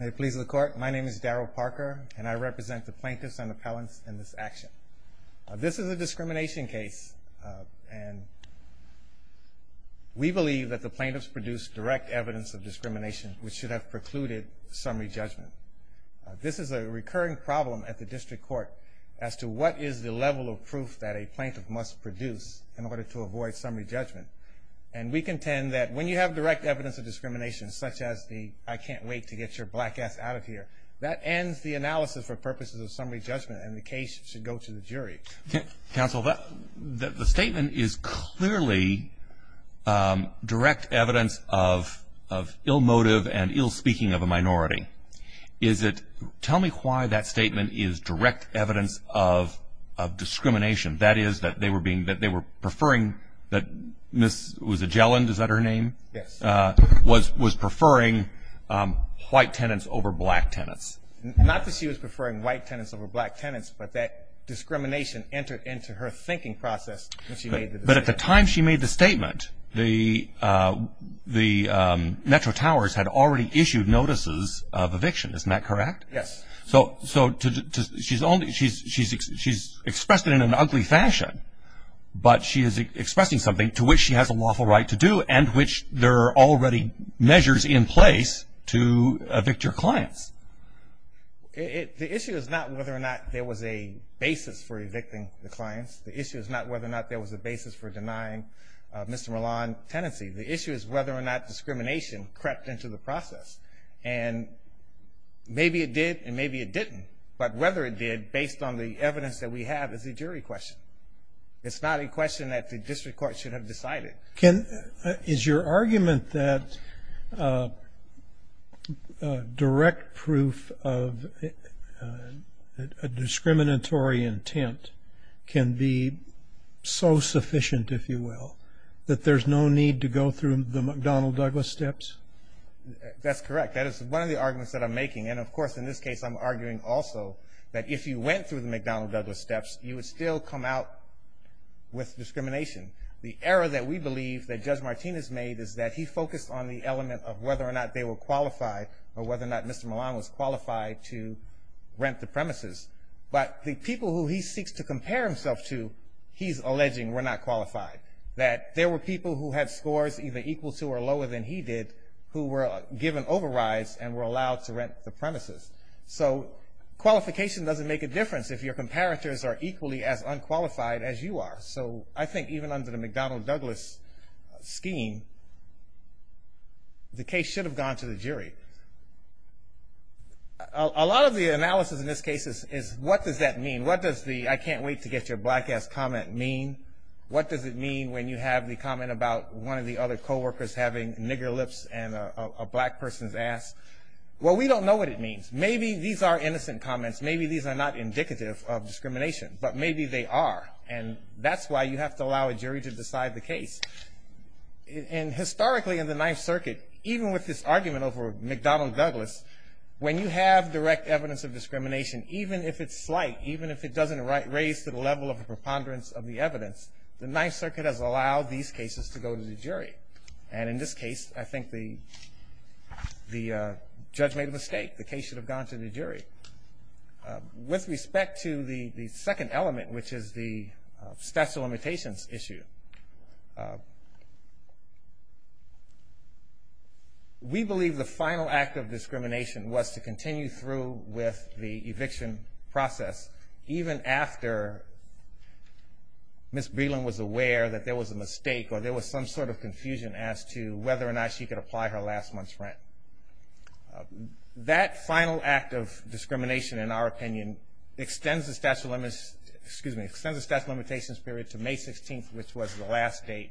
May it please the court, my name is Darryl Parker and I represent the plaintiffs and appellants in this action. This is a discrimination case and we believe that the plaintiffs produced direct evidence of discrimination which should have precluded summary judgment. This is a recurring problem at the district court as to what is the level of proof that a plaintiff must produce in order to avoid summary judgment and we contend that when you have direct evidence of discrimination, that is the, I can't wait to get your black ass out of here. That ends the analysis for purposes of summary judgment and the case should go to the jury. Counsel, the statement is clearly direct evidence of ill motive and ill-speaking of a minority. Is it, tell me why that statement is direct evidence of discrimination, that is that they were being, that they were preferring that this was a Gelland, is that her name? Yes. Was, was preferring white tenants over black tenants. Not that she was preferring white tenants over black tenants but that discrimination entered into her thinking process. But at the time she made the statement, the, the Metro Towers had already issued notices of eviction, isn't that correct? Yes. So, so she's only, she's, she's, she's expressing something to which she has a lawful right to do and which there are already measures in place to evict your clients. It, the issue is not whether or not there was a basis for evicting the clients. The issue is not whether or not there was a basis for denying Mr. Milan tenancy. The issue is whether or not discrimination crept into the process and maybe it did and maybe it didn't but whether it did based on the evidence that we have is a jury question. It's not a question that the district court should have decided. Can, is your argument that direct proof of a discriminatory intent can be so sufficient, if you will, that there's no need to go through the McDonnell-Douglas steps? That's correct. That is one of the arguments that I'm making and of course in this case I'm arguing also that if you went through the McDonnell-Douglas steps you would still come out with discrimination. The error that we believe that Judge Martinez made is that he focused on the element of whether or not they were qualified or whether or not Mr. Milan was qualified to rent the premises. But the people who he seeks to compare himself to, he's alleging were not qualified. That there were people who had scores either equal to or lower than he did who were given overrides and were allowed to rent the premises. So qualification doesn't make a difference if your comparators are equally as unqualified as you are. So I think even under the McDonnell-Douglas scheme the case should have gone to the jury. A lot of the analysis in this case is what does that mean? What does the I can't wait to get your black ass comment mean? What does it mean when you have the comment about one of the other co-workers having nigger lips and a black person's ass? Well we don't know what it means. Maybe these are innocent comments. Maybe these are not indicative of discrimination. But maybe they are. And that's why you have to allow a jury to decide the case. And historically in the Ninth Circuit, even with this argument over McDonnell-Douglas, when you have direct evidence of discrimination, even if it's slight, even if it doesn't raise to the level of a preponderance of the evidence, the Ninth Circuit has allowed these cases to go to the jury. And in this case, I think the the judge made a mistake. The case should have gone to the jury. With respect to the the second element, which is the statute of limitations issue, we believe the final act of discrimination was to continue through with the eviction process even after Ms. Breland was aware that there was a mistake or there was some sort of confusion as to whether or not she could apply her last month's rent. That final act of discrimination, in our opinion, extends the statute of limitations period to May 16th, which was the last date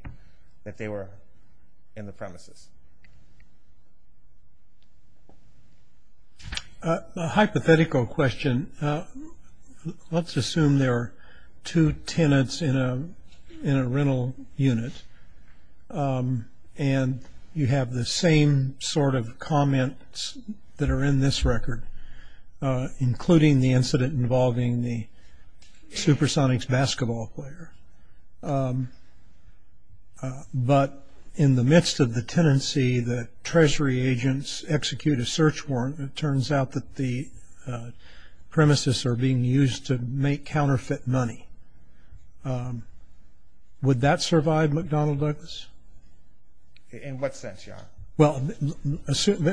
that they were in the premises. A hypothetical question. Let's assume there are two tenants in a in a rental unit and you have the same sort of comments that are in this record, including the incident involving the Supersonics basketball player. But in the tenancy, the Treasury agents execute a search warrant. It turns out that the premises are being used to make counterfeit money. Would that survive McDonnell Douglas? In what sense, Your Honor? Well,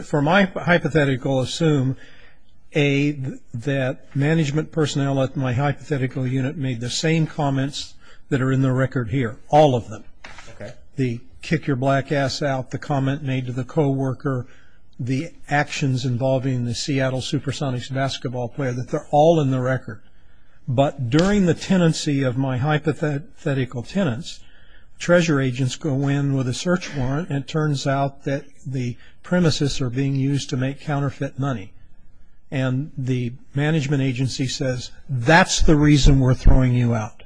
for my hypothetical, assume that management personnel at my hypothetical unit made the same comments that are in the record here, all of them. The kick your black ass out, the comment made to the co-worker, the actions involving the Seattle Supersonics basketball player, that they're all in the record. But during the tenancy of my hypothetical tenants, Treasury agents go in with a search warrant and it turns out that the premises are being used to make counterfeit money. And the management agency says, that's the reason we're throwing you out.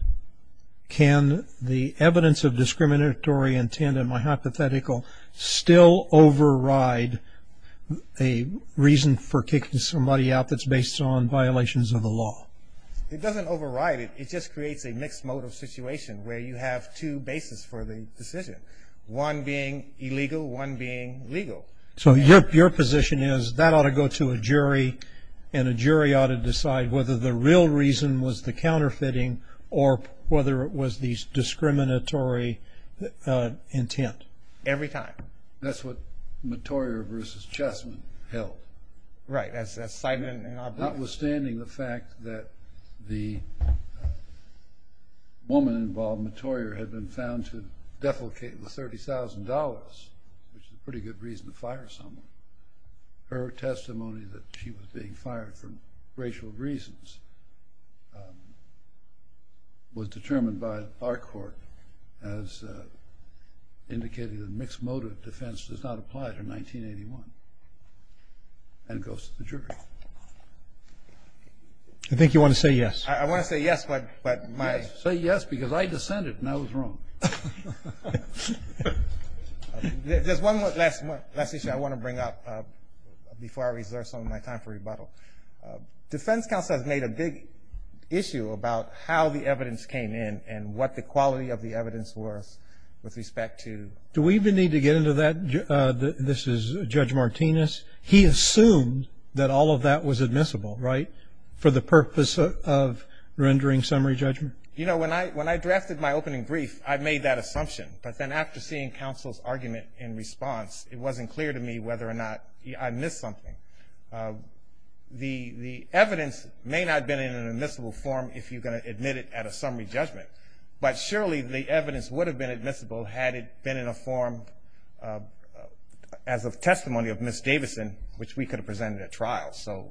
Can the evidence of discriminatory intent in my hypothetical still override a reason for kicking somebody out that's based on violations of the law? It doesn't override it. It just creates a mixed mode of situation where you have two bases for the decision. One being illegal, one being legal. So your position is that I ought to go to a jury, and a jury ought to decide whether the real reason was the counterfeiting or whether it was the discriminatory intent. Every time. That's what Mottorior v. Chessman held. Right, that's the assignment and obligation. Notwithstanding the fact that the woman involved, Mottorior, had been found to defecate the $30,000, which is a pretty good reason to fire someone. Her testimony that she was being fired for racial reasons was determined by our court as indicating that mixed motive defense does not apply to 1981. And goes to the jury. I think you want to say yes. I want to say yes, but my... Say yes because I dissented and I was wrong. There's one last issue I want to bring up before I reserve some of my time for rebuttal. Defense counsel has made a big issue about how the evidence came in and what the quality of the evidence was with respect to... Do we even need to get into that? This is Judge Martinez. He assumed that all of that was admissible, right? For the purpose of rendering summary judgment. You know, when I drafted my opening brief, I made that assumption. But then after seeing counsel's argument in response, it wasn't clear to me whether or not I missed something. The evidence may not have been in an admissible form if you're going to admit it at a summary judgment. But surely the evidence would have been admissible had it been in a form as of testimony of Ms. Davidson, which we could have presented at trial. So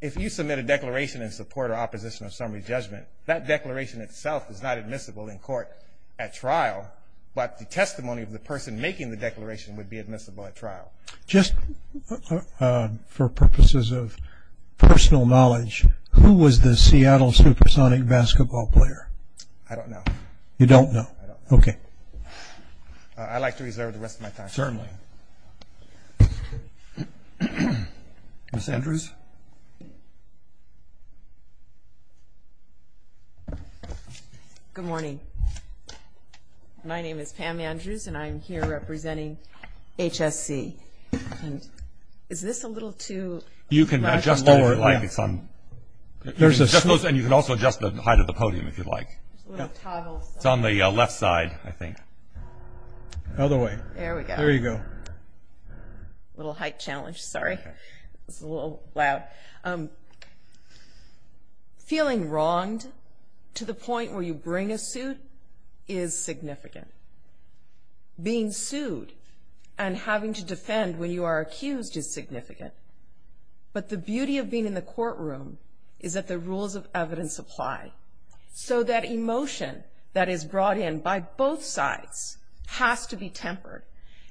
if you submit a declaration in support or opposition of summary judgment, that declaration itself is not admissible in court at trial. But the testimony of the person making the declaration would be admissible at trial. Just for purposes of personal knowledge, who was the Seattle Supersonic basketball player? I don't know. You don't know? Okay. I'd like to reserve the rest of my time. Certainly. Ms. Andrews? Good morning. My name is Pam Andrews, and I'm here representing HSC. Is this a little too... You can adjust that if you like. And you can also adjust the height of the podium if you'd like. It's on the left side, I think. The other way. There we go. A little height challenge, sorry. It's a little loud. Feeling wronged to the point where you bring a suit is significant. Being sued and having to defend when you are accused is significant. But the beauty of being in the courtroom is that the rules of evidence apply. So that emotion that is brought in by both sides has to be tempered.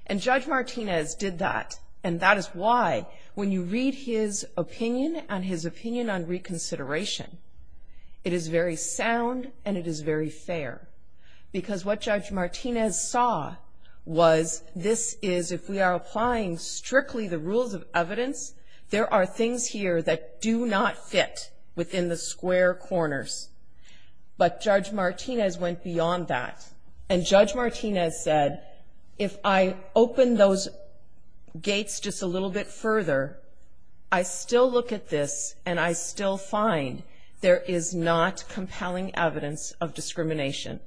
And Judge Martinez did that. And that is why when you read his opinion and his opinion on reconsideration, it is very sound and it is very fair. Because what Judge Martinez saw was this is, if we are applying strictly the rules of evidence, there are things here that do not fit within the square corners. But Judge Martinez went beyond that. And Judge Martinez said, if I open those gates just a little bit further, I still look at this and I still find there is not compelling evidence of discrimination.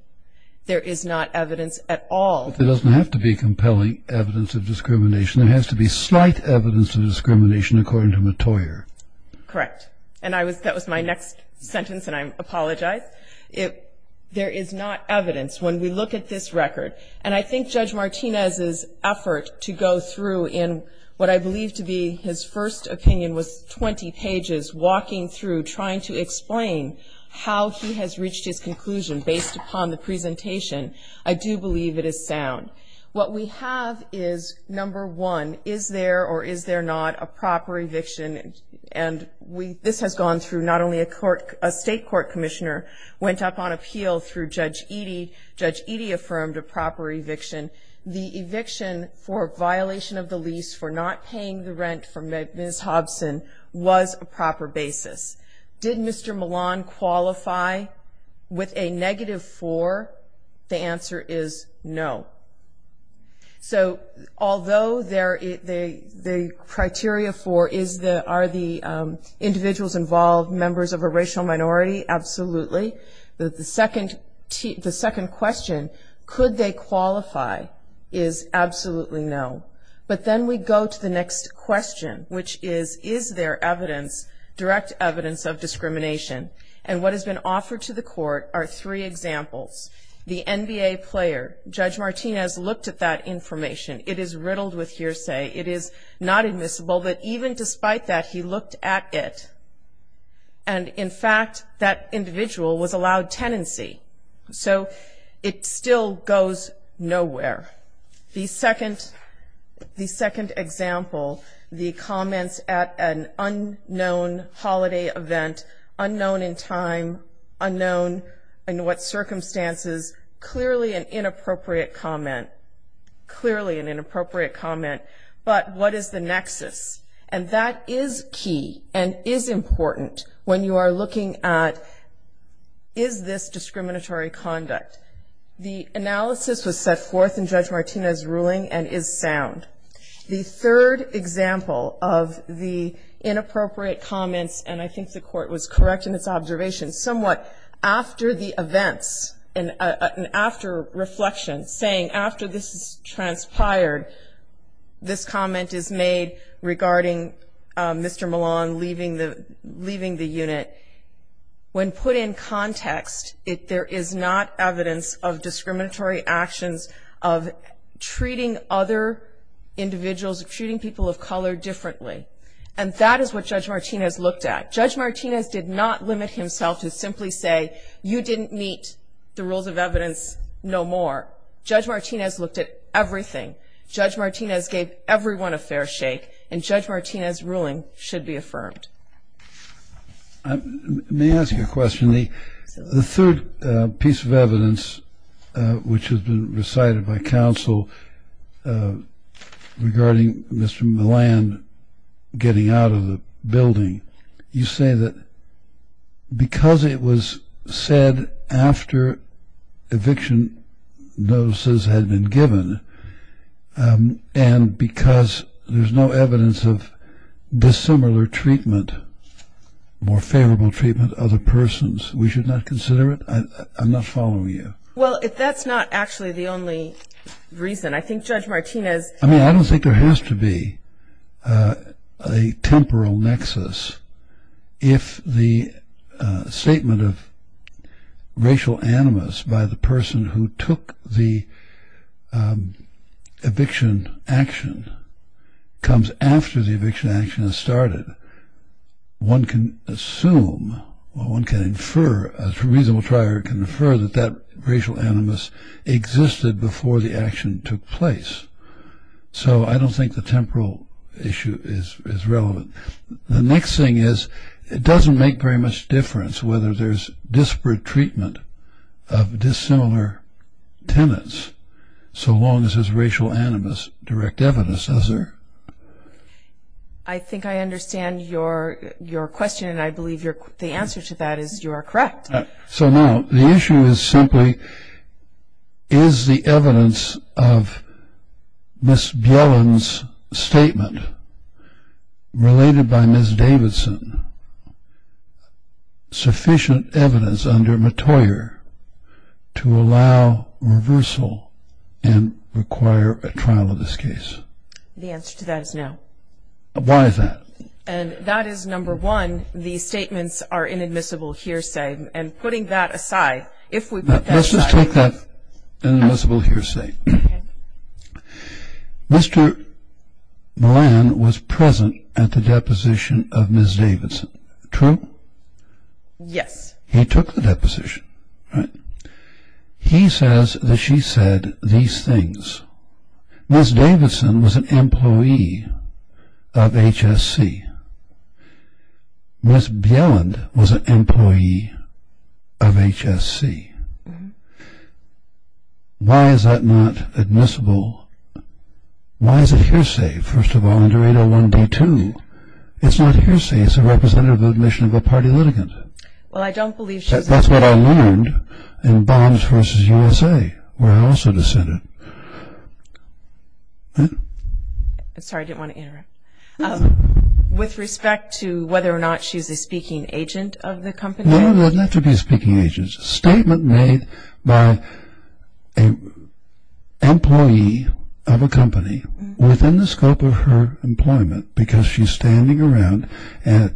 There is not evidence at all. There doesn't have to be compelling evidence of discrimination. There has to be slight evidence of discrimination, according to Mottoyer. Correct. And that was my next sentence, and I apologize. There is not evidence. When we look at this record, and I think Judge Martinez's effort to go through in what I believe to be his first opinion was 20 pages, walking through, trying to explain how he has reached his conclusion based upon the presentation, I do believe it is sound. What we have is, number one, is there or is there not a proper eviction? And this has gone through not only a court, a state court commissioner went up on appeal through Judge Eadie. Judge Eadie affirmed a proper eviction. The eviction for violation of the lease for not paying the criteria for are the individuals involved members of a racial minority? Absolutely. The second question, could they qualify, is absolutely no. But then we go to the next question, which is, is there evidence, direct evidence of discrimination? And what has been offered to the court are three examples. The NBA player, Judge Martinez looked at that information. It is riddled with not admissible, but even despite that, he looked at it. And in fact, that individual was allowed tenancy. So it still goes nowhere. The second example, the comments at an unknown holiday event, unknown in time, unknown in what circumstances, clearly an appropriate comment. But what is the nexus? And that is key and is important when you are looking at, is this discriminatory conduct? The analysis was set forth in Judge Martinez ruling and is sound. The third example of the inappropriate comments, and I am sure this comment is made regarding Mr. Milan leaving the unit. When put in context, there is not evidence of discriminatory actions of treating other individuals, of treating people of color differently. And that is what Judge Martinez looked at. Judge Martinez did not limit himself to simply say, you didn't meet the rules of evidence no more. Judge Martinez looked at everything. Judge Martinez gave everyone a fair shake. And Judge Martinez ruling should be affirmed. Let me ask you a question. The third piece of evidence, which has been recited by counsel regarding Mr. Milan getting out of the And because there is no evidence of dissimilar treatment, more favorable treatment of other persons, we should not consider it? I am not following you. Well, if that is not actually the only reason, I think Judge Martinez I mean, I don't think there has to be a temporal nexus. If the statement of racial animus by the person who took the eviction action comes after the eviction action has started, one can assume, one can infer, a reasonable trier can infer that that racial animus existed before the action took place. So, I don't think the temporal issue is relevant. The next thing is, it doesn't make very much difference whether there is disparate treatment of dissimilar tenants, so long as there is racial animus direct evidence. Is there? I think I understand your question and I believe the answer to that is you are correct. So now, the issue is simply, is the evidence of Ms. Bjelland's statement, related by Ms. Davidson, sufficient evidence under Mottoyer to allow reversal and require a trial of this case? The answer to that is no. Why is that? And that is number one, the statements are inadmissible hearsay and putting that aside, if we put that aside. Let's just take that inadmissible hearsay. Mr. Millan was present at the deposition of Ms. Davidson, true? Yes. He took the deposition. He says that she said these things. Ms. Davidson was an employee of HSC. Ms. Bjelland was an employee of HSC. Why is that not admissible? Why is it hearsay, first of all, under 801 D2? It's not hearsay, it's a representative of the admission of a party litigant. Well, I don't believe she's a party litigant. That's what I learned in Bonds v. USA, where I also dissented. Sorry, I didn't want to interrupt. With respect to whether or not she's a speaking agent of the company? No, not to be a speaking agent. It's a statement made by an employee of a company within the scope of her employment, because she's standing around in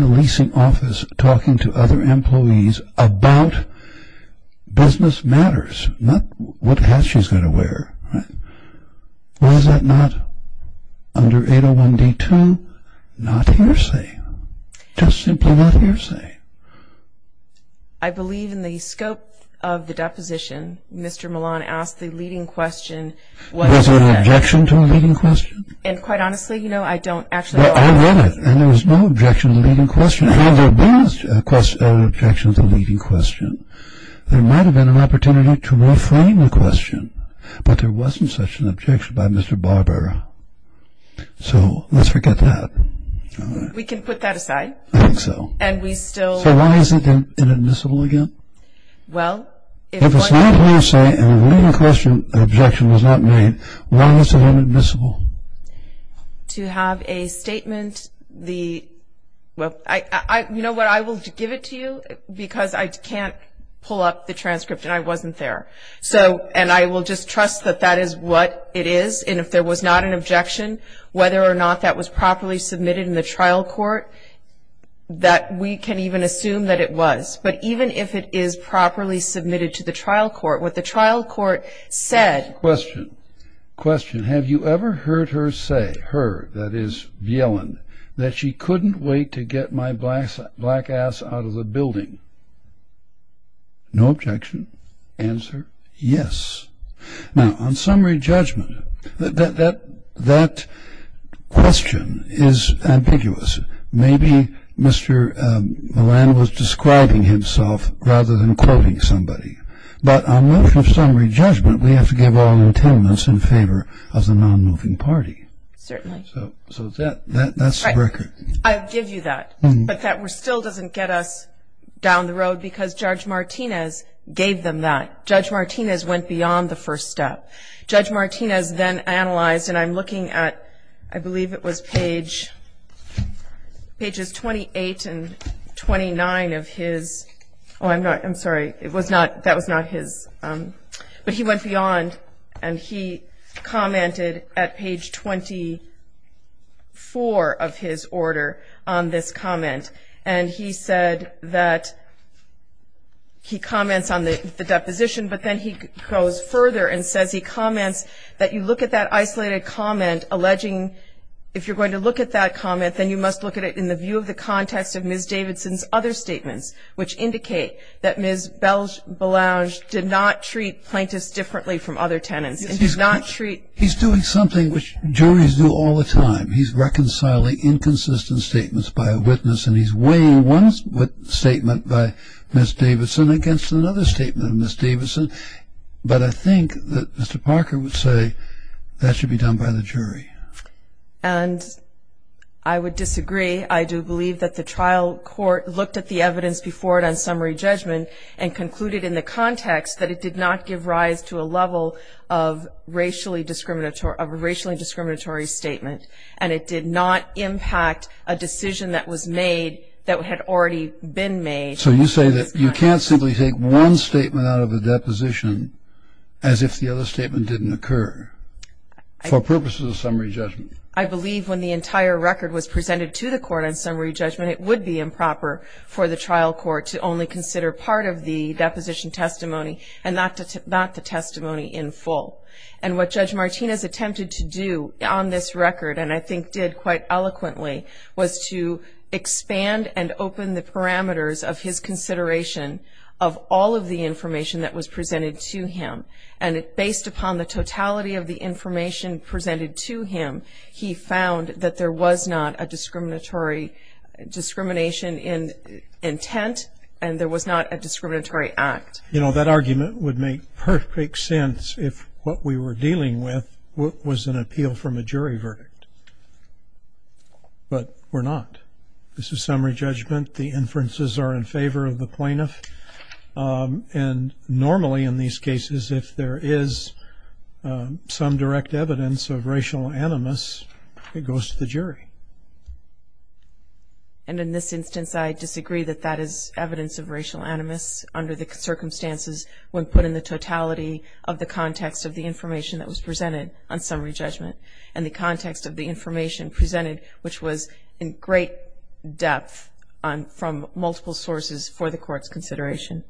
the leasing office talking to other employees about business matters, not what hat she's going to wear. Why is that not under 801 D2? Not hearsay. Just simply not hearsay. I believe in the scope of the deposition, Mr. Millan asked the leading question. Was it an objection to a leading question? And quite honestly, you know, I don't actually know. Well, I read it, and there was no objection to the leading question. Had there been an objection to the leading question, there might have been an opportunity to reframe the question. But there wasn't such an objection by Mr. Barber. So let's forget that. We can put that aside. I think so. And we still. So why is it inadmissible again? Well, if it's not hearsay and a leading question objection was not made, why is it inadmissible? To have a statement, the, well, I, you know what, I will give it to you, because I can't pull up the transcript, and I wasn't there. So, and I will just trust that that is what it is, and if there was not an objection, whether or not that was properly submitted in the trial court, that we can even assume that it was. But even if it is properly submitted to the trial court, what the trial court said. Question. Question. Have you ever heard her say, her, that is, Viellon, that she couldn't wait to get my black ass out of the building? No objection. Answer, yes. Now, on summary judgment, that question is ambiguous. Maybe Mr. Millan was describing himself rather than quoting somebody. But on motion of summary judgment, we have to give all intentions in favor of the non-moving party. Certainly. So that's the record. I'll give you that. But that still doesn't get us down the road, because Judge Martinez gave them that. Judge Martinez went beyond the first step. Judge Martinez then analyzed, and I'm looking at, I believe it was page, pages 28 and 29 of his, oh, I'm not, I'm sorry. It was not, that was not his, but he went beyond, and he commented at page 24 of his order on this comment. And he said that, he comments on the deposition, but then he goes further and says he comments that you look at that isolated comment, alleging if you're going to look at that comment, then you must look at it in the view of the context of Ms. Davidson's other statements, which indicate that Ms. Belange did not treat plaintiffs differently from other tenants, and did not treat. He's doing something which juries do all the time. He's reconciling inconsistent statements by a witness, and he's weighing one statement by Ms. Davidson against another statement of Ms. Davidson. But I think that Mr. Parker would say that should be done by the jury. And I would disagree. I do believe that the trial court looked at the evidence before it on summary judgment, and concluded in the context that it did not give rise to a level of racially discriminatory statement. And it did not impact a decision that was made, that had already been made. So you say that you can't simply take one statement out of a deposition, as if the other statement didn't occur, for purposes of summary judgment? I believe when the entire record was presented to the court on summary judgment, it would be improper for the trial court to only consider part of the deposition testimony, and not the testimony in full. And what Judge Martinez attempted to do on this record, and I think did quite eloquently, was to expand and open the parameters of his consideration of all of the information that was presented to him. And based upon the totality of the information presented to him, he found that there was not a discriminatory discrimination in intent, and there was not a discriminatory act. You know, that argument would make perfect sense if what we were dealing with was an appeal from a jury verdict. But we're not. This is summary judgment. The inferences are in favor of the plaintiff. And normally in these cases, if there is some direct evidence of racial animus, it goes to the jury. And in this instance, I disagree that that is evidence of racial animus under the circumstances when put in the totality of the context of the information that was presented on summary judgment, and the context of the information presented, which was in great depth from multiple sources for the court's consideration.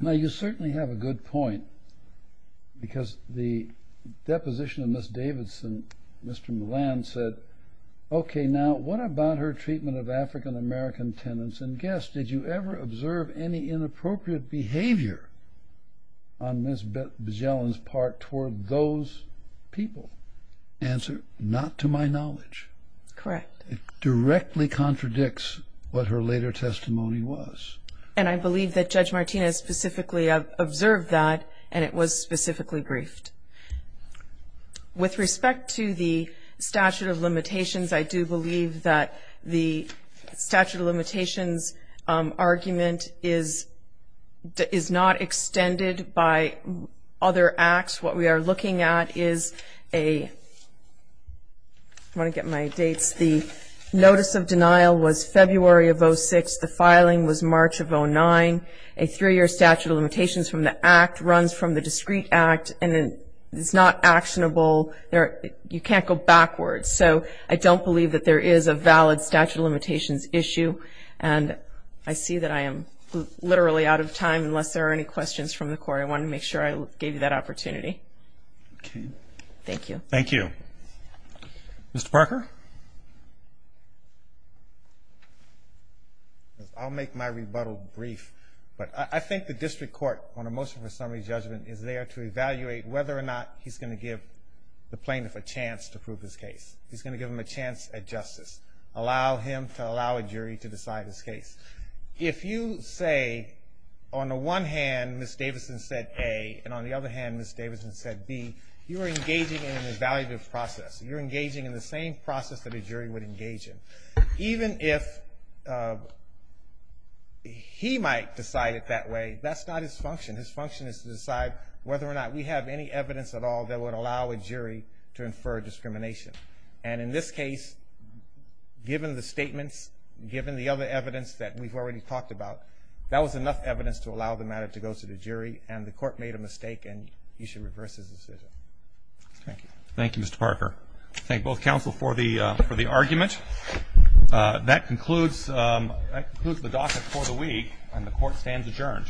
Now, you certainly have a good point, because the deposition of Ms. Davidson, Mr. Millan said, okay, now, what about her treatment of African-American tenants and guests? Did you ever observe any inappropriate behavior on Ms. Bejelen's part toward those people? Answer, not to my knowledge. Correct. It directly contradicts what her later testimony was. And I believe that Judge Martinez specifically observed that, and it was specifically briefed. With respect to the statute of limitations, I do believe that the statute of limitations argument is not extended by other acts. What we are looking at is a, I want to get my dates, the notice of denial was February of 06. The filing was March of 09. A three-year statute of limitations from the act runs from the discrete act, and it's not actionable. You can't go backwards. So, I don't believe that there is a valid statute of limitations issue. And I see that I am literally out of time, unless there are any questions from the court. I wanted to make sure I gave you that opportunity. Thank you. Thank you. Mr. Parker? I'll make my rebuttal brief, but I think the district court on a motion for summary judgment is there to evaluate whether or not he's going to give the plaintiff a chance to prove his case. He's going to give him a chance at justice, allow him to allow a jury to decide his case. If you say, on the one hand, Ms. Davison said A, and on the other hand, Ms. Davison said B, you are engaging in an evaluative process. You're engaging in the same process that a jury would engage in. Even if he might decide it that way, that's not his function. His function is to decide whether or not we have any evidence at all that would allow a jury to infer discrimination. And in this case, given the statements, given the other evidence that we've already talked about, that was enough evidence to allow the matter to go to the jury. And the court made a mistake, and you should reverse his decision. Thank you. Thank you, Mr. Parker. Thank both counsel for the argument. That concludes the docket for the week, and the court stands adjourned.